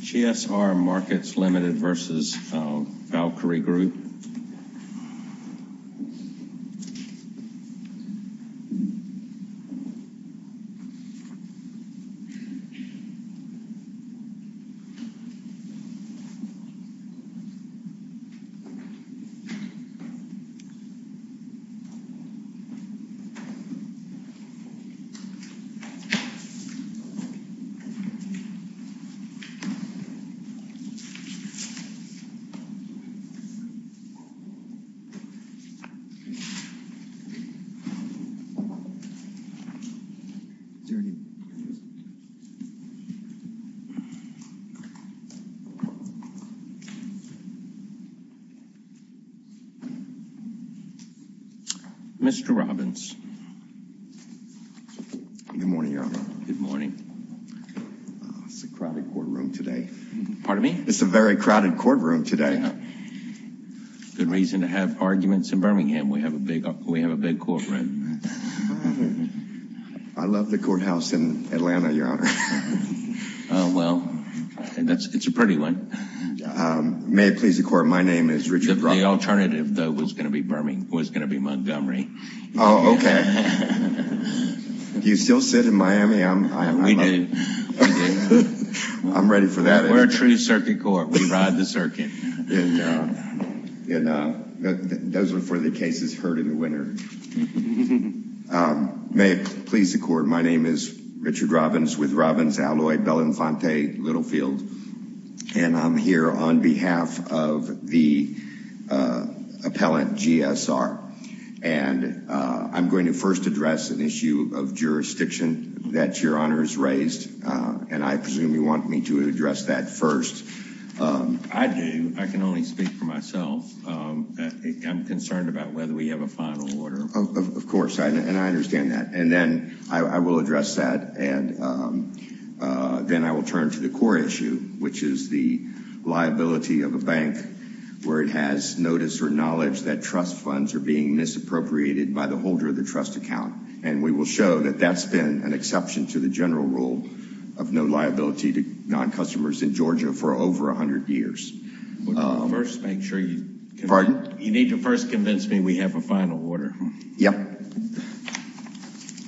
GSR Markets Limited v. Valkyrie Group Mr. Robbins. Good morning, Your Honor. Good morning. It's a crowded courtroom today. Pardon me? It's a very crowded courtroom today. Good reason to have arguments in Birmingham. We have a big courtroom. I love the courthouse in Atlanta, Your Honor. Oh, well, it's a pretty one. May it please the Court, my name is Richard Robbins. The alternative, though, was going to be Montgomery. Oh, okay. Do you still sit in Miami? We do. I'm ready for that. We're a true circuit court. We ride the circuit. Those are for the cases heard in the winter. May it please the Court, my name is Richard Robbins with Robbins Alloy Bell Infante Littlefield, and I'm here on behalf of the appellant GSR, and I'm going to first address an issue of jurisdiction that Your Honor has raised, and I presume you want me to address that first. I do. I can only speak for myself. I'm concerned about whether we have a final order. Of course, and I understand that. And then I will address that, and then I will turn to the core issue, which is the liability of a bank where it has notice or knowledge that trust funds are being misappropriated by the holder of the trust account, and we will show that that's been an exception to the general rule of no liability to non-customers in Georgia for over 100 years. First, make sure you need to first convince me we have a final order. Yep.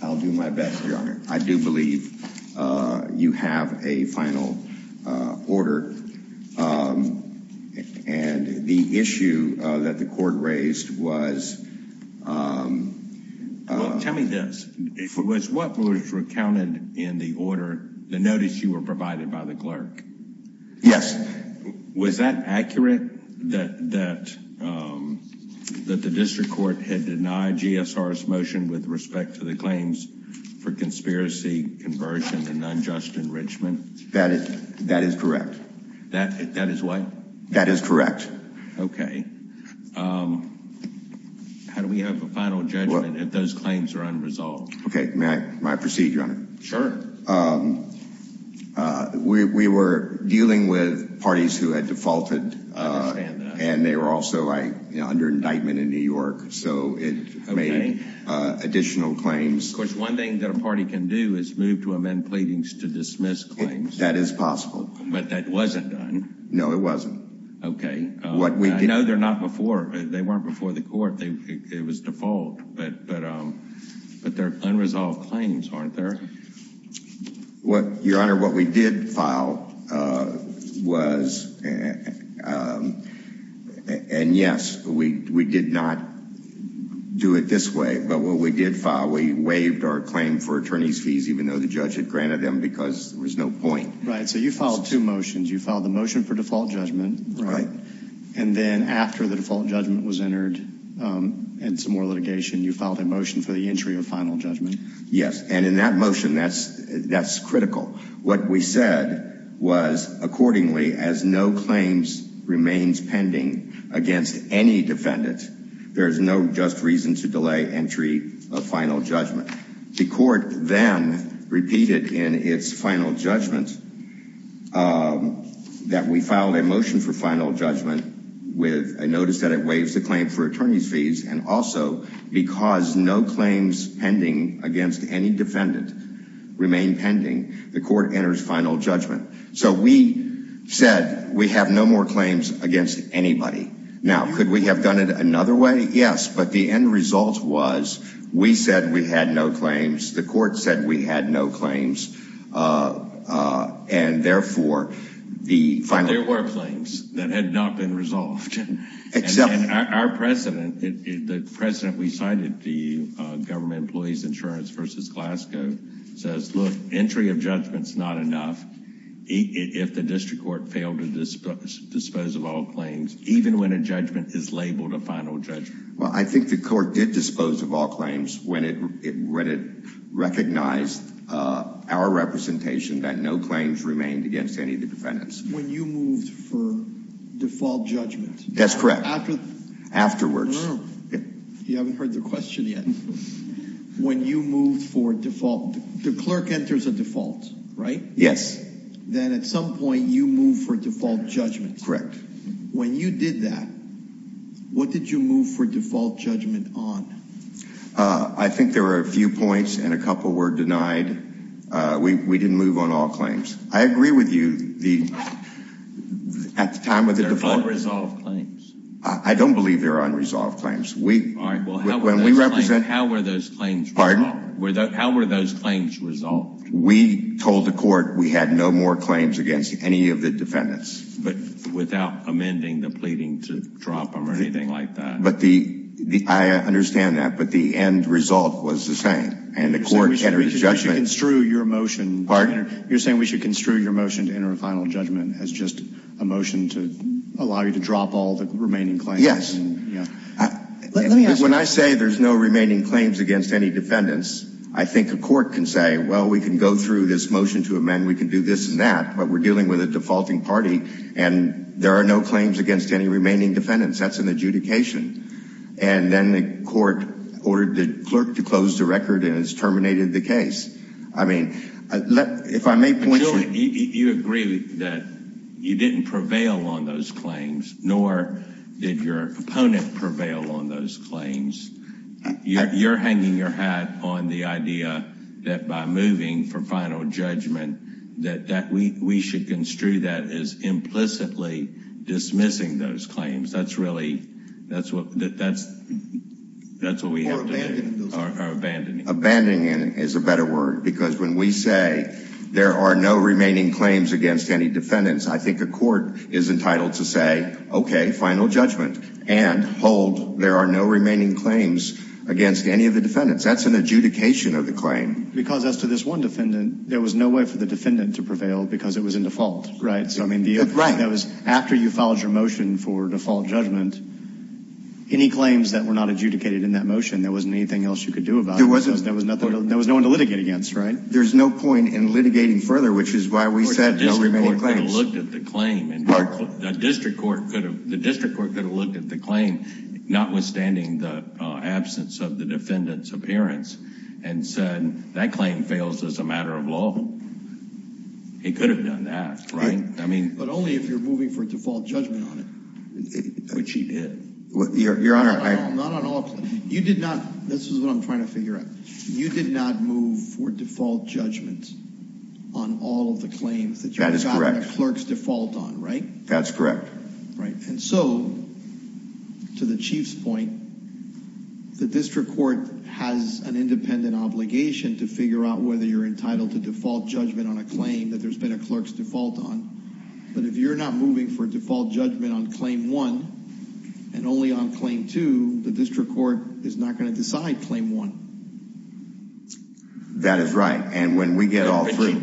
I'll do my best, Your Honor. I do believe you have a final order, and the issue that the Court raised was... Well, tell me this. Was what was recounted in the order the notice you were provided by the clerk? Yes. Was that accurate, that the district court had denied GSR's motion with respect to the claims for conspiracy, conversion, and unjust enrichment? That is correct. That is what? That is correct. Okay. How do we have a final judgment if those claims are unresolved? Okay. May I proceed, Your Honor? Sure. We were dealing with parties who had defaulted. I understand that. And they were also under indictment in New York, so it made additional claims. Of course, one thing that a party can do is move to amend pleadings to dismiss claims. That is possible. But that wasn't done. No, it wasn't. Okay. I know they're not before... They weren't before the Court. It was default. But they're unresolved claims, aren't they? Your Honor, what we did file was, and yes, we did not do it this way, but what we did file, we waived our claim for attorney's fees even though the judge had granted them because there was no point. Right. So you filed two motions. You filed the motion for default judgment. Right. And then after the default judgment was entered and some more litigation, you filed a motion for the entry of final judgment. Yes. And in that motion, that's critical. What we said was, accordingly, as no claims remains pending against any defendant, there is no just reason to delay entry of final judgment. But the Court then repeated in its final judgment that we filed a motion for final judgment with a notice that it waives the claim for attorney's fees and also because no claims pending against any defendant remain pending, the Court enters final judgment. So we said we have no more claims against anybody. Now, could we have done it another way? Yes. But the end result was, we said we had no claims, the Court said we had no claims, and therefore, the final judgment. But there were claims that had not been resolved. Exactly. And our precedent, the precedent we cited, the Government Employees Insurance v. Glasgow, says, look, entry of judgment is not enough if the district court failed to dispose of all claims, even when a judgment is labeled a final judgment. Well, I think the Court did dispose of all claims when it recognized our representation that no claims remained against any of the defendants. When you moved for default judgment. That's correct. Afterwards. You haven't heard the question yet. When you moved for default, the clerk enters a default, right? Yes. Then at some point, you move for default judgment. Correct. When you did that, what did you move for default judgment on? I think there were a few points, and a couple were denied. We didn't move on all claims. I agree with you, at the time of the default. They're unresolved claims. I don't believe they're unresolved claims. All right, well, how were those claims resolved? Pardon? How were those claims resolved? We told the Court we had no more claims against any of the defendants. But without amending the pleading to drop them or anything like that. I understand that, but the end result was the same. And the Court entered a judgment. You're saying we should construe your motion to enter a final judgment as just a motion to allow you to drop all the remaining claims? Yes. When I say there's no remaining claims against any defendants, I think the Court can say, well, we can go through this motion to amend. We can do this and that. But we're dealing with a defaulting party, and there are no claims against any remaining defendants. That's an adjudication. And then the Court ordered the clerk to close the record, and it's terminated the case. I mean, if I may point you— You agree that you didn't prevail on those claims, nor did your opponent prevail on those claims. You're hanging your hat on the idea that by moving for final judgment, that we should construe that as implicitly dismissing those claims. That's really—that's what we have to do. Or abandoning those claims. Or abandoning. Abandoning is a better word. Because when we say there are no remaining claims against any defendants, I think the Court is entitled to say, okay, final judgment. And hold there are no remaining claims against any of the defendants. That's an adjudication of the claim. Because as to this one defendant, there was no way for the defendant to prevail because it was in default, right? Right. After you filed your motion for default judgment, any claims that were not adjudicated in that motion, there wasn't anything else you could do about it. There wasn't. There was no one to litigate against, right? There's no point in litigating further, which is why we said no remaining claims. The district court could have looked at the claim, notwithstanding the absence of the defendant's appearance, and said that claim fails as a matter of law. He could have done that, right? But only if you're moving for default judgment on it, which he did. Your Honor, I— Not on all claims. You did not—this is what I'm trying to figure out. You did not move for default judgment on all of the claims. That is correct. That you got on a clerk's default on, right? That's correct. Right. And so, to the Chief's point, the district court has an independent obligation to figure out whether you're entitled to default judgment on a claim that there's been a clerk's default on. But if you're not moving for default judgment on claim one and only on claim two, the district court is not going to decide claim one. That is right. And when we get all three— On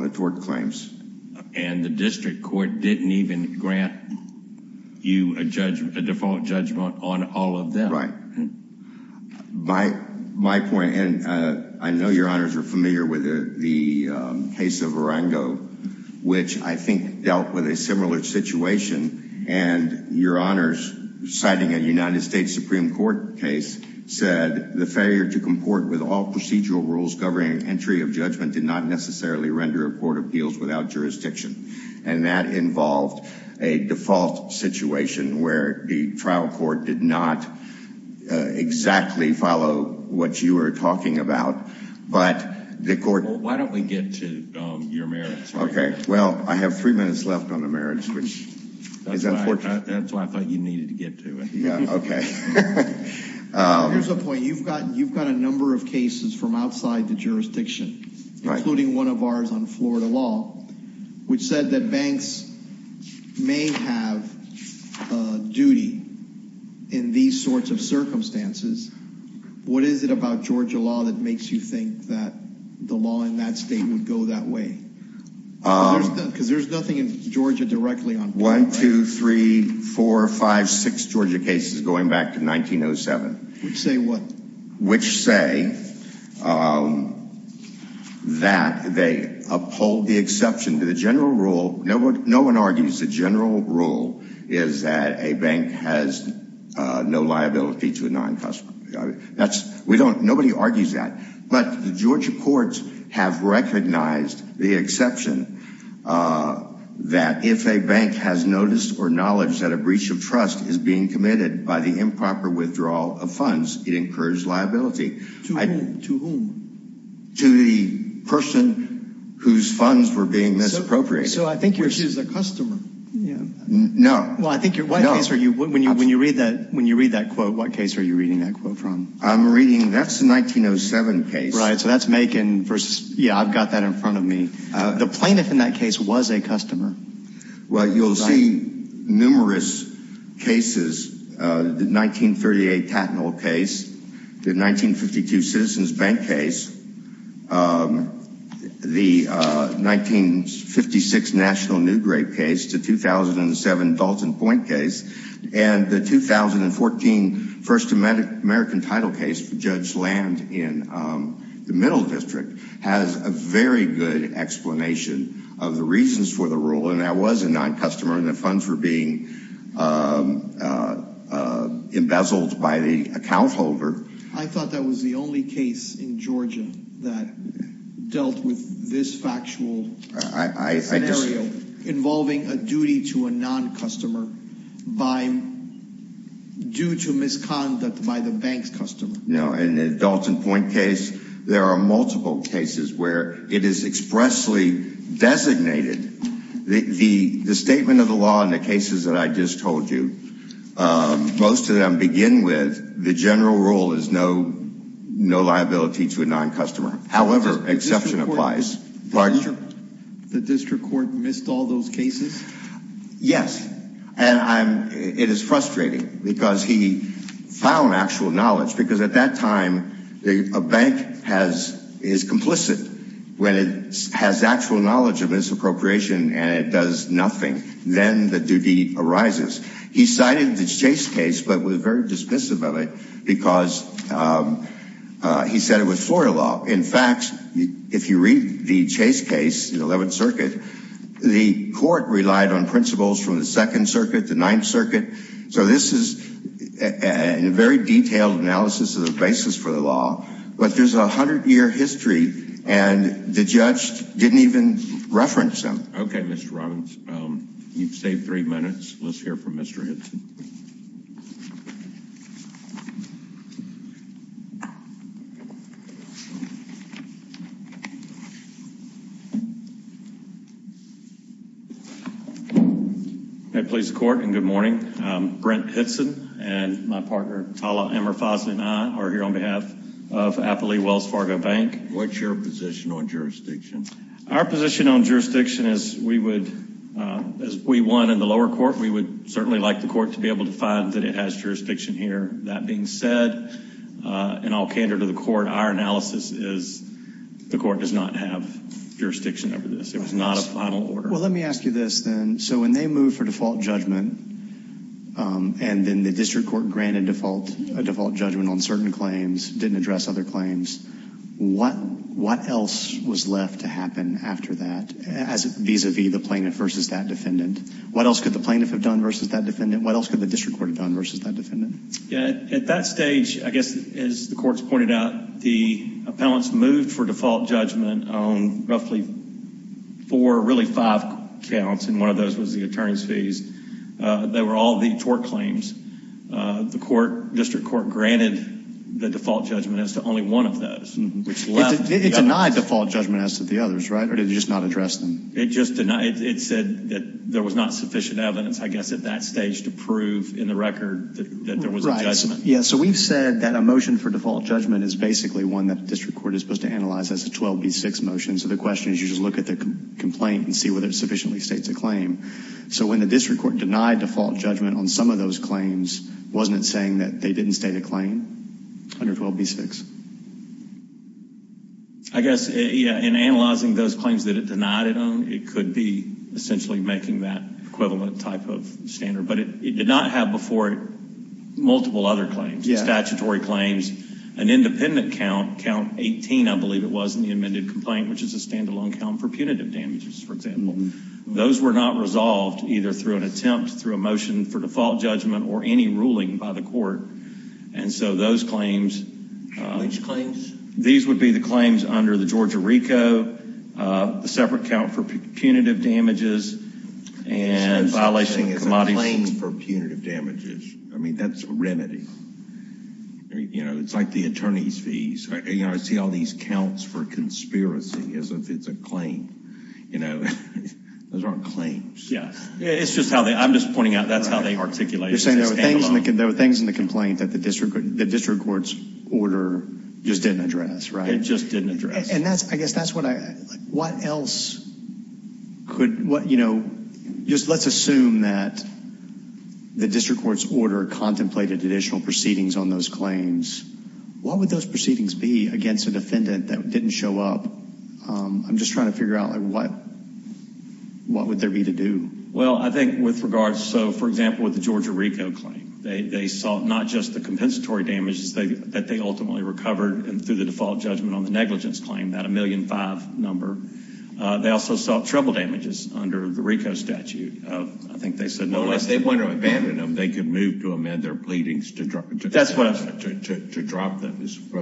the tort claims. And the district court didn't even grant you a default judgment on all of them. Right. My point—and I know Your Honors are familiar with the case of Arango, which I think dealt with a similar situation. And Your Honors, citing a United States Supreme Court case, said the failure to comport with all procedural rules governing entry of judgment did not necessarily render a court appeals without jurisdiction. And that involved a default situation where the trial court did not exactly follow what you were talking about. But the court— Why don't we get to your merits? Okay. Well, I have three minutes left on the merits, which is unfortunate. That's why I thought you needed to get to it. Yeah. Okay. Here's a point. You've got a number of cases from outside the jurisdiction, including one of ours on Florida law, which said that banks may have duty in these sorts of circumstances. What is it about Georgia law that makes you think that the law in that state would go that way? Because there's nothing in Georgia directly on Florida. One, two, three, four, five, six Georgia cases going back to 1907. Which say what? Which say that they uphold the exception to the general rule—no one argues the general rule is that a bank has no liability to a non-customer. Nobody argues that. But the Georgia courts have recognized the exception that if a bank has noticed or knowledge that a breach of trust is being committed by the improper withdrawal of funds, it incurs liability. To whom? To the person whose funds were being misappropriated. So I think you're— Which is a customer. No. When you read that quote, what case are you reading that quote from? I'm reading—that's the 1907 case. Right, so that's Macon versus—yeah, I've got that in front of me. The plaintiff in that case was a customer. Well, you'll see numerous cases. The 1938 Tattnall case. The 1952 Citizens Bank case. The 1956 National Newgrape case. The 2007 Dalton Point case. And the 2014 First American Title case, Judge Land in the Middle District, has a very good explanation of the reasons for the rule, and that was a non-customer, and the funds were being embezzled by the account holder. I thought that was the only case in Georgia that dealt with this factual scenario involving a duty to a non-customer due to misconduct by the bank's customer. In the Dalton Point case, there are multiple cases where it is expressly designated. The statement of the law in the cases that I just told you, most of them begin with the general rule is no liability to a non-customer. However, exception applies. The district court missed all those cases? Yes. And it is frustrating because he found actual knowledge, because at that time, a bank is complicit when it has actual knowledge of its appropriation and it does nothing. Then the duty arises. He cited the Chase case but was very dismissive of it because he said it was Florida law. In fact, if you read the Chase case, the 11th Circuit, the court relied on principles from the 2nd Circuit, the 9th Circuit. So this is a very detailed analysis of the basis for the law, but there's a hundred-year history, and the judge didn't even reference them. Okay, Mr. Robbins. You've saved three minutes. Let's hear from Mr. Hinson. Mr. Hinson. Good morning. I'm Brent Hinson, and my partner, Tala Amirfazli, and I are here on behalf of Appley Wells Fargo Bank. What's your position on jurisdiction? Our position on jurisdiction is we would, as we won in the lower court, we would certainly like the court to be able to find that it has jurisdiction here. That being said, in all candor to the court, our analysis is the court does not have jurisdiction over this. It was not a final order. Well, let me ask you this then. So when they moved for default judgment, and then the district court granted default judgment on certain claims, didn't address other claims, what else was left to happen after that vis-a-vis the plaintiff versus that defendant? What else could the plaintiff have done versus that defendant? What else could the district court have done versus that defendant? At that stage, I guess, as the courts pointed out, the appellants moved for default judgment on roughly four, really five counts, and one of those was the attorney's fees. They were all the tort claims. The district court granted the default judgment as to only one of those. It denied default judgment as to the others, right, or did it just not address them? It said that there was not sufficient evidence, I guess, at that stage to prove in the record that there was a judgment. Yeah, so we've said that a motion for default judgment is basically one that the district court is supposed to analyze as a 12B6 motion. So the question is you just look at the complaint and see whether it sufficiently states a claim. So when the district court denied default judgment on some of those claims, wasn't it saying that they didn't state a claim under 12B6? I guess, yeah, in analyzing those claims that it denied it on, it could be essentially making that equivalent type of standard, but it did not have before it multiple other claims, statutory claims, an independent count, count 18, I believe it was, in the amended complaint, which is a standalone count for punitive damages, for example. Those were not resolved either through an attempt, through a motion for default judgment, or any ruling by the court. And so those claims. Which claims? These would be the claims under the Georgia RICO, the separate count for punitive damages, and violation of commodities. So it's a claim for punitive damages. I mean, that's a remedy. You know, it's like the attorney's fees. You know, I see all these counts for conspiracy as if it's a claim. You know, those aren't claims. Yeah, it's just how they, I'm just pointing out that's how they articulate it. You're saying there were things in the complaint that the district court's order just didn't address, right? It just didn't address. And that's, I guess that's what I, what else could, what, you know, just let's assume that the district court's order contemplated additional proceedings on those claims. What would those proceedings be against a defendant that didn't show up? I'm just trying to figure out, like, what would there be to do? Well, I think with regards, so, for example, with the Georgia RICO claim, they sought not just the compensatory damages that they ultimately recovered through the default judgment on the negligence claim, that $1.5 million number. They also sought treble damages under the RICO statute. I think they said no less than that. Well, if they wanted to abandon them, they could move to amend their pleadings to drop those from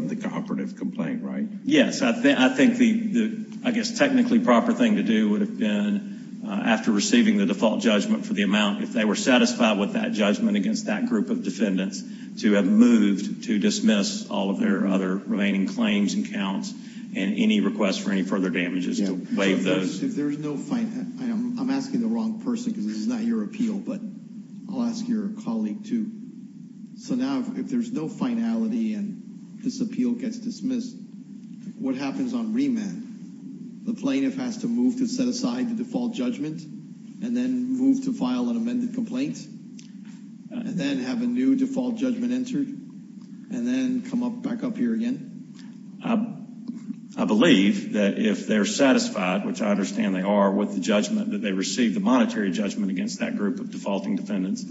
the cooperative complaint, right? Yes. I think the, I guess, technically proper thing to do would have been, after receiving the default judgment for the amount, if they were satisfied with that judgment against that group of defendants, to have moved to dismiss all of their other remaining claims and counts and any requests for any further damages to waive those. If there's no, I'm asking the wrong person because this is not your appeal, but I'll ask your colleague too. So now, if there's no finality and this appeal gets dismissed, what happens on remand? The plaintiff has to move to set aside the default judgment and then move to file an amended complaint and then have a new default judgment entered and then come back up here again? I believe that if they're satisfied, which I understand they are, with the judgment that they received, the monetary judgment against that group of defaulting defendants,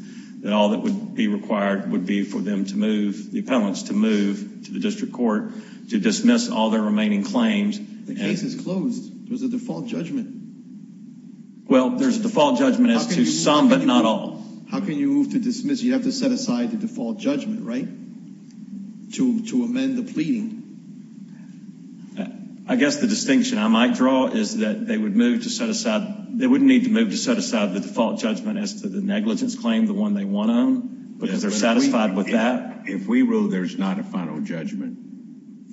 that all that would be required would be for them to move, the appellants, to move to the district court to dismiss all their remaining claims. The case is closed. There's a default judgment. Well, there's a default judgment as to some but not all. How can you move to dismiss? You have to set aside the default judgment, right? To amend the pleading. I guess the distinction I might draw is that they would move to set aside, they wouldn't need to move to set aside the default judgment as to the negligence claim, the one they want on, because they're satisfied with that. If we rule there's not a final judgment,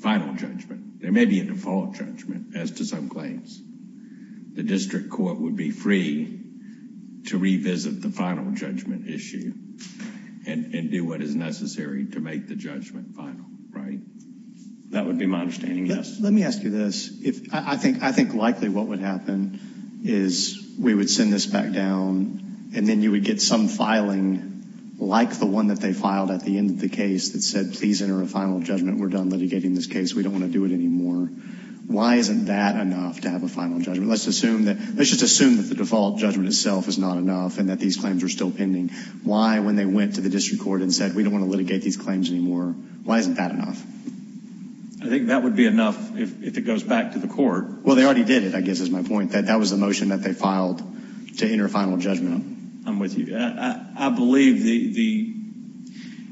final judgment, there may be a default judgment as to some claims. The district court would be free to revisit the final judgment issue and do what is necessary to make the judgment final, right? That would be my understanding, yes. Let me ask you this. I think likely what would happen is we would send this back down and then you would get some filing like the one that they filed at the end of the case that said, please enter a final judgment, we're done litigating this case, we don't want to do it anymore. Why isn't that enough to have a final judgment? Let's just assume that the default judgment itself is not enough and that these claims are still pending. Why, when they went to the district court and said, we don't want to litigate these claims anymore, why isn't that enough? I think that would be enough if it goes back to the court. Well, they already did it, I guess is my point. That was the motion that they filed to enter a final judgment. I'm with you. I believe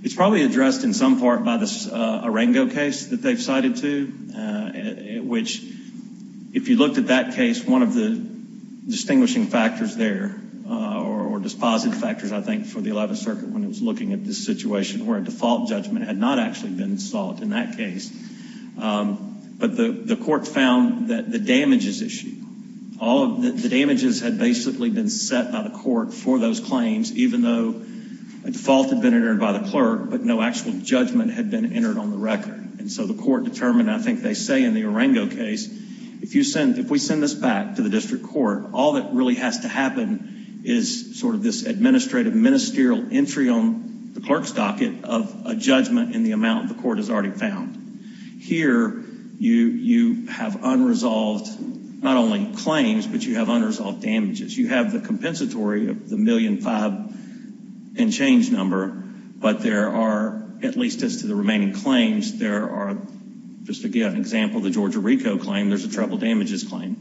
it's probably addressed in some part by the Arengo case that they've cited to, which if you looked at that case, one of the distinguishing factors there, or dispositive factors, I think, for the 11th Circuit when it was looking at this situation where a default judgment had not actually been sought in that case, but the court found that the damages issue, all of the damages had basically been set by the court for those claims, even though a default had been entered by the clerk, but no actual judgment had been entered on the record. And so the court determined, I think they say in the Arengo case, if we send this back to the district court, all that really has to happen is sort of this administrative, the ministerial entry on the clerk's docket of a judgment in the amount the court has already found. Here, you have unresolved not only claims, but you have unresolved damages. You have the compensatory of the $1.5 million in change number, but there are, at least as to the remaining claims, there are, just to give an example, the Georgia RICO claim, there's a treble damages claim.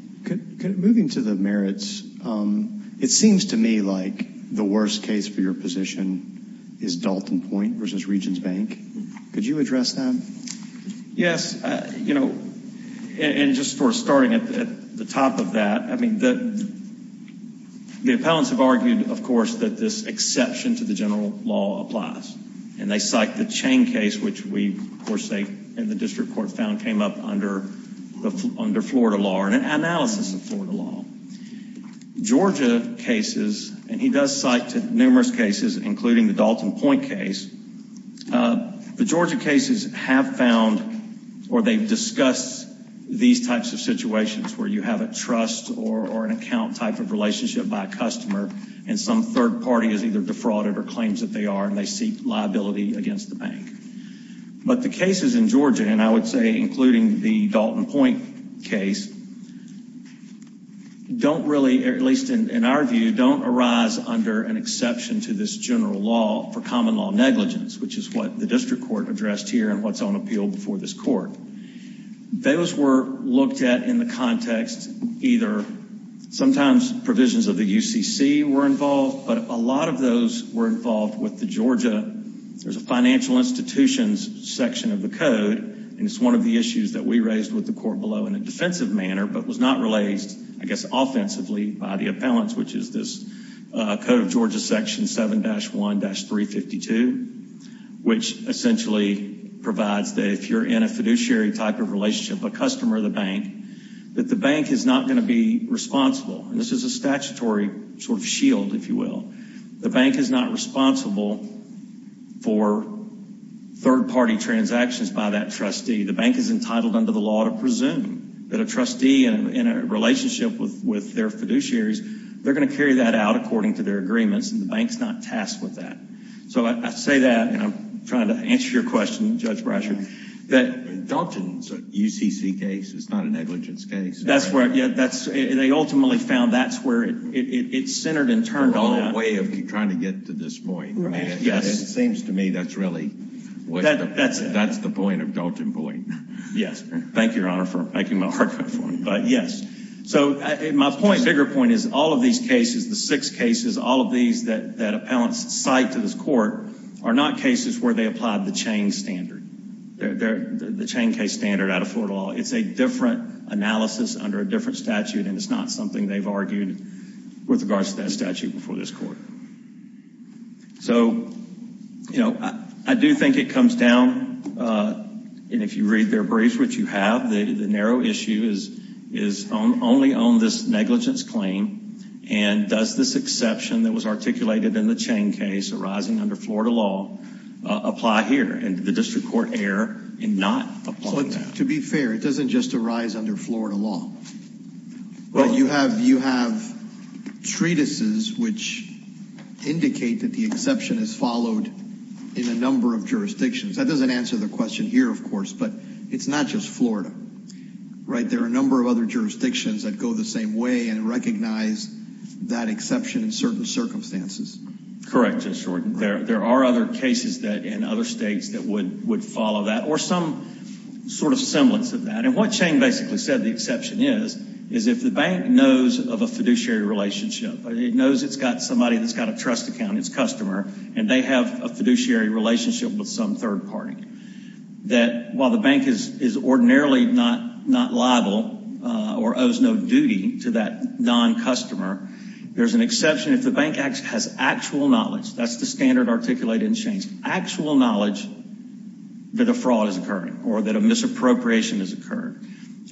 Moving to the merits, it seems to me like the worst case for your position is Dalton Point versus Regions Bank. Could you address that? Yes. You know, and just for starting at the top of that, I mean, the appellants have argued, of course, that this exception to the general law applies, and they cite the Chain case, which we, of course, and the district court found came up under Florida law, and an analysis of Florida law. Georgia cases, and he does cite numerous cases, including the Dalton Point case, the Georgia cases have found or they've discussed these types of situations where you have a trust or an account type of relationship by a customer, and some third party is either defrauded or claims that they are, and they seek liability against the bank. But the cases in Georgia, and I would say including the Dalton Point case, don't really, at least in our view, don't arise under an exception to this general law for common law negligence, which is what the district court addressed here and what's on appeal before this court. Those were looked at in the context either sometimes provisions of the UCC were involved, but a lot of those were involved with the Georgia. There's a financial institutions section of the code, and it's one of the issues that we raised with the court below in a defensive manner, but was not raised, I guess, offensively by the appellants, which is this Code of Georgia Section 7-1-352, which essentially provides that if you're in a fiduciary type of relationship, a customer of the bank, that the bank is not going to be responsible. This is a statutory sort of shield, if you will. The bank is not responsible for third party transactions by that trustee. The bank is entitled under the law to presume that a trustee in a relationship with their fiduciaries, they're going to carry that out according to their agreements, and the bank's not tasked with that. So I say that, and I'm trying to answer your question, Judge Brasher. Dalton's UCC case is not a negligence case. That's where, yeah, they ultimately found that's where it centered and turned on. The wrong way of trying to get to this point. Yes. It seems to me that's really, that's the point of Dalton Boyd. Yes. Thank you, Your Honor, for making my argument for me, but yes. So my point, bigger point, is all of these cases, the six cases, all of these that appellants cite to this court are not cases where they applied the chain standard, the chain case standard out of Florida law. It's a different analysis under a different statute, and it's not something they've argued with regards to that statute before this court. So, you know, I do think it comes down, and if you read their briefs, which you have, the narrow issue is only on this negligence claim, and does this exception that was articulated in the chain case arising under Florida law apply here? And did the district court err in not applying that? To be fair, it doesn't just arise under Florida law. You have treatises which indicate that the exception is followed in a number of jurisdictions. That doesn't answer the question here, of course, but it's not just Florida, right? There are a number of other jurisdictions that go the same way and recognize that exception in certain circumstances. Correct, Judge Horton. There are other cases in other states that would follow that or some sort of semblance of that, and what Chang basically said the exception is is if the bank knows of a fiduciary relationship, it knows it's got somebody that's got a trust account, it's a customer, and they have a fiduciary relationship with some third party, that while the bank is ordinarily not liable or owes no duty to that non-customer, there's an exception if the bank has actual knowledge. That's the standard articulated in Chang's actual knowledge that a fraud has occurred or that a misappropriation has occurred.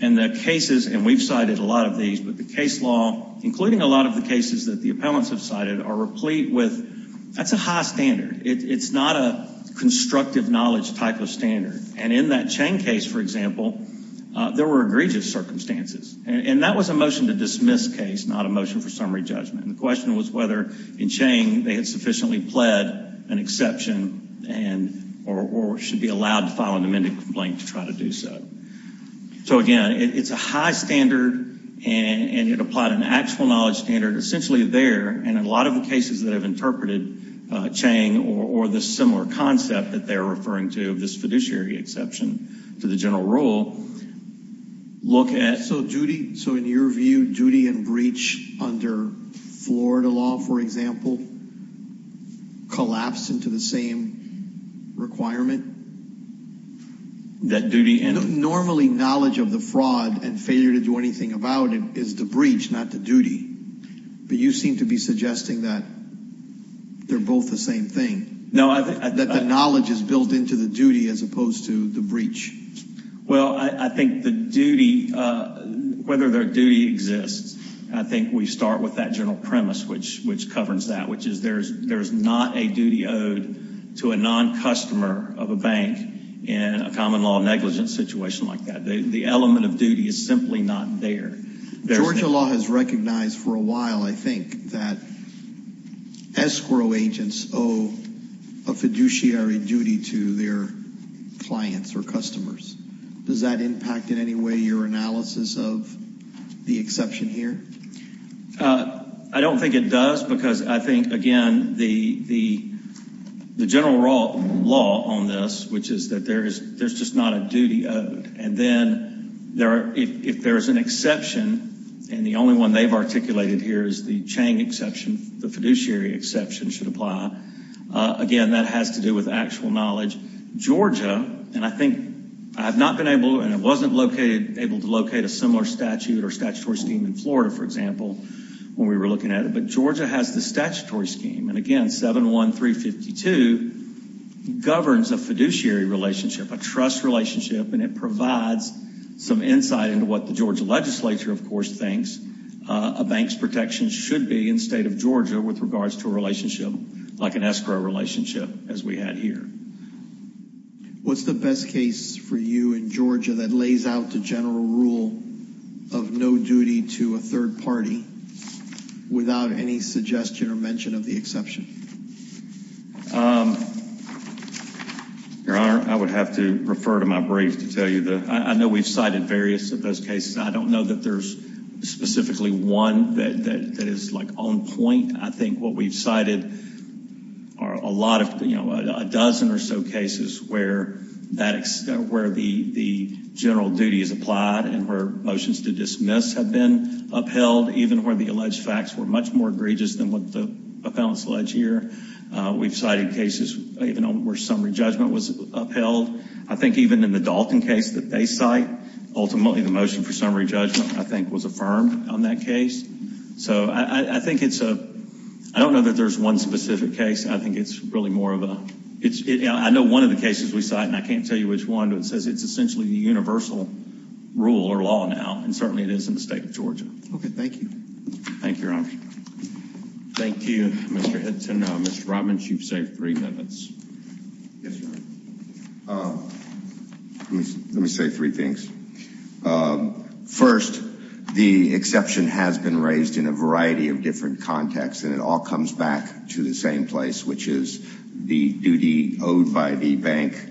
And the cases, and we've cited a lot of these, but the case law, including a lot of the cases that the appellants have cited, are replete with, that's a high standard. It's not a constructive knowledge type of standard. And in that Chang case, for example, there were egregious circumstances, and that was a motion to dismiss case, not a motion for summary judgment. The question was whether in Chang they had sufficiently pled an exception or should be allowed to file an amended complaint to try to do so. So again, it's a high standard, and it applied an actual knowledge standard essentially there, and a lot of the cases that have interpreted Chang or this similar concept that they're referring to, this fiduciary exception to the general rule, look at. So in your view, duty and breach under Florida law, for example, collapse into the same requirement? Normally, knowledge of the fraud and failure to do anything about it is the breach, not the duty. But you seem to be suggesting that they're both the same thing, that the knowledge is built into the duty as opposed to the breach. Well, I think the duty, whether their duty exists, I think we start with that general premise, which covers that, which is there is not a duty owed to a non-customer of a bank in a common law negligence situation like that. The element of duty is simply not there. Georgia law has recognized for a while, I think, that escrow agents owe a fiduciary duty to their clients or customers. Does that impact in any way your analysis of the exception here? I don't think it does, because I think, again, the general law on this, which is that there's just not a duty owed. And then if there is an exception, and the only one they've articulated here is the Chang exception, the fiduciary exception should apply, again, that has to do with actual knowledge. Georgia, and I think I've not been able, and I wasn't able to locate a similar statute or statutory scheme in Florida, for example, when we were looking at it, but Georgia has the statutory scheme. And, again, 71352 governs a fiduciary relationship, a trust relationship, and it provides some insight into what the Georgia legislature, of course, thinks a bank's protection should be in the state of Georgia with regards to a relationship like an escrow relationship, as we had here. What's the best case for you in Georgia that lays out the general rule of no duty to a third party without any suggestion or mention of the exception? Your Honor, I would have to refer to my brief to tell you. I know we've cited various of those cases. I don't know that there's specifically one that is, like, on point. I think what we've cited are a lot of, you know, a dozen or so cases where the general duty is applied and where motions to dismiss have been upheld, even where the alleged facts were much more egregious than what the appellants allege here. We've cited cases even where summary judgment was upheld. I think even in the Dalton case that they cite, ultimately the motion for summary judgment, I think, was affirmed on that case. So I think it's a—I don't know that there's one specific case. I think it's really more of a—I know one of the cases we cite, and I can't tell you which one, but it says it's essentially the universal rule or law now, and certainly it is in the state of Georgia. Okay, thank you. Thank you, Your Honor. Thank you, Mr. Hinton. Mr. Robbins, you've saved three minutes. Yes, Your Honor. Let me say three things. First, the exception has been raised in a variety of different contexts, and it all comes back to the same place, which is the duty owed by the bank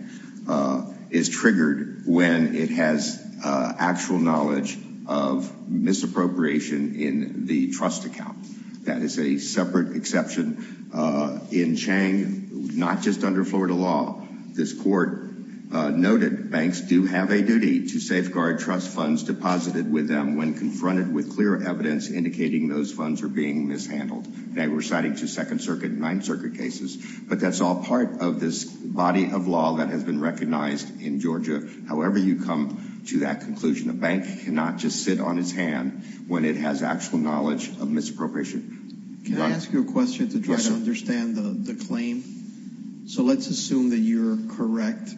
is triggered when it has actual knowledge of misappropriation in the trust account. That is a separate exception. In Chang, not just under Florida law, this court noted banks do have a duty to safeguard trust funds deposited with them when confronted with clear evidence indicating those funds are being mishandled. They were citing two Second Circuit and Ninth Circuit cases. But that's all part of this body of law that has been recognized in Georgia. However you come to that conclusion, a bank cannot just sit on its hand when it has actual knowledge of misappropriation. Can I ask you a question to try to understand the claim? So let's assume that you're correct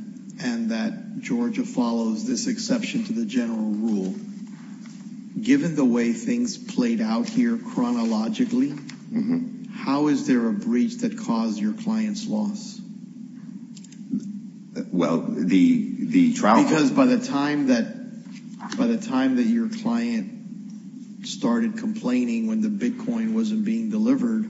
and that Georgia follows this exception to the general rule. Given the way things played out here chronologically, how is there a breach that caused your client's loss? Well, the trial… Because by the time that your client started complaining when the Bitcoin wasn't being delivered,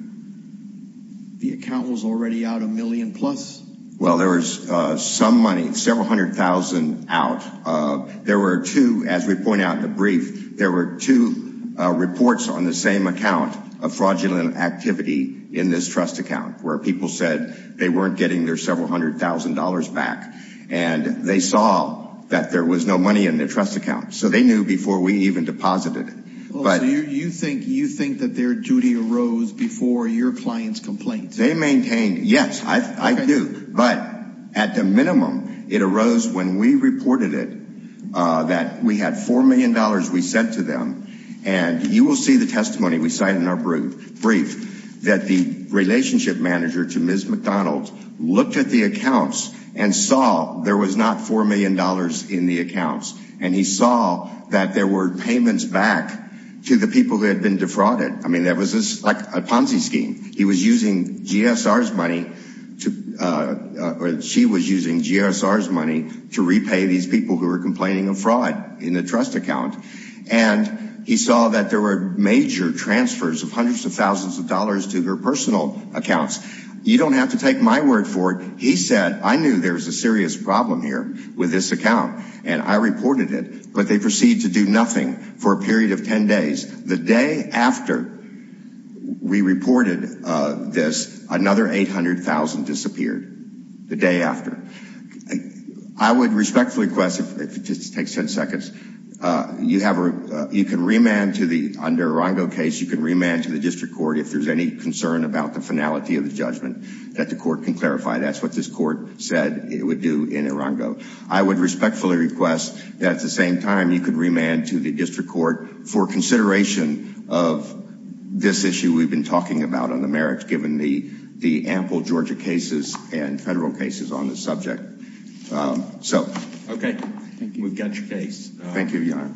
the account was already out a million plus. Well, there was some money, several hundred thousand out. There were two, as we point out in the brief, there were two reports on the same account of fraudulent activity in this trust account where people said they weren't getting their several hundred thousand dollars back. And they saw that there was no money in their trust account. So they knew before we even deposited. You think that their duty arose before your client's complaint? They maintained, yes, I do. But at the minimum, it arose when we reported it, that we had $4 million we sent to them. And you will see the testimony we cite in our brief that the relationship manager to Ms. McDonald looked at the accounts and saw there was not $4 million in the accounts. And he saw that there were payments back to the people that had been defrauded. I mean, that was like a Ponzi scheme. He was using GSR's money to… She was using GSR's money to repay these people who were complaining of fraud in the trust account. And he saw that there were major transfers of hundreds of thousands of dollars to her personal accounts. You don't have to take my word for it. He said, I knew there was a serious problem here with this account. And I reported it. But they proceeded to do nothing for a period of 10 days. The day after we reported this, another $800,000 disappeared. The day after. I would respectfully request, if it takes 10 seconds, you can remand to the… Under a Rongo case, you can remand to the district court if there's any concern about the finality of the judgment that the court can clarify. That's what this court said it would do in a Rongo. I would respectfully request that, at the same time, you could remand to the district court for consideration of this issue we've been talking about on the merits, given the ample Georgia cases and federal cases on this subject. So… Okay. Thank you. We've got your case. Thank you, Your Honor.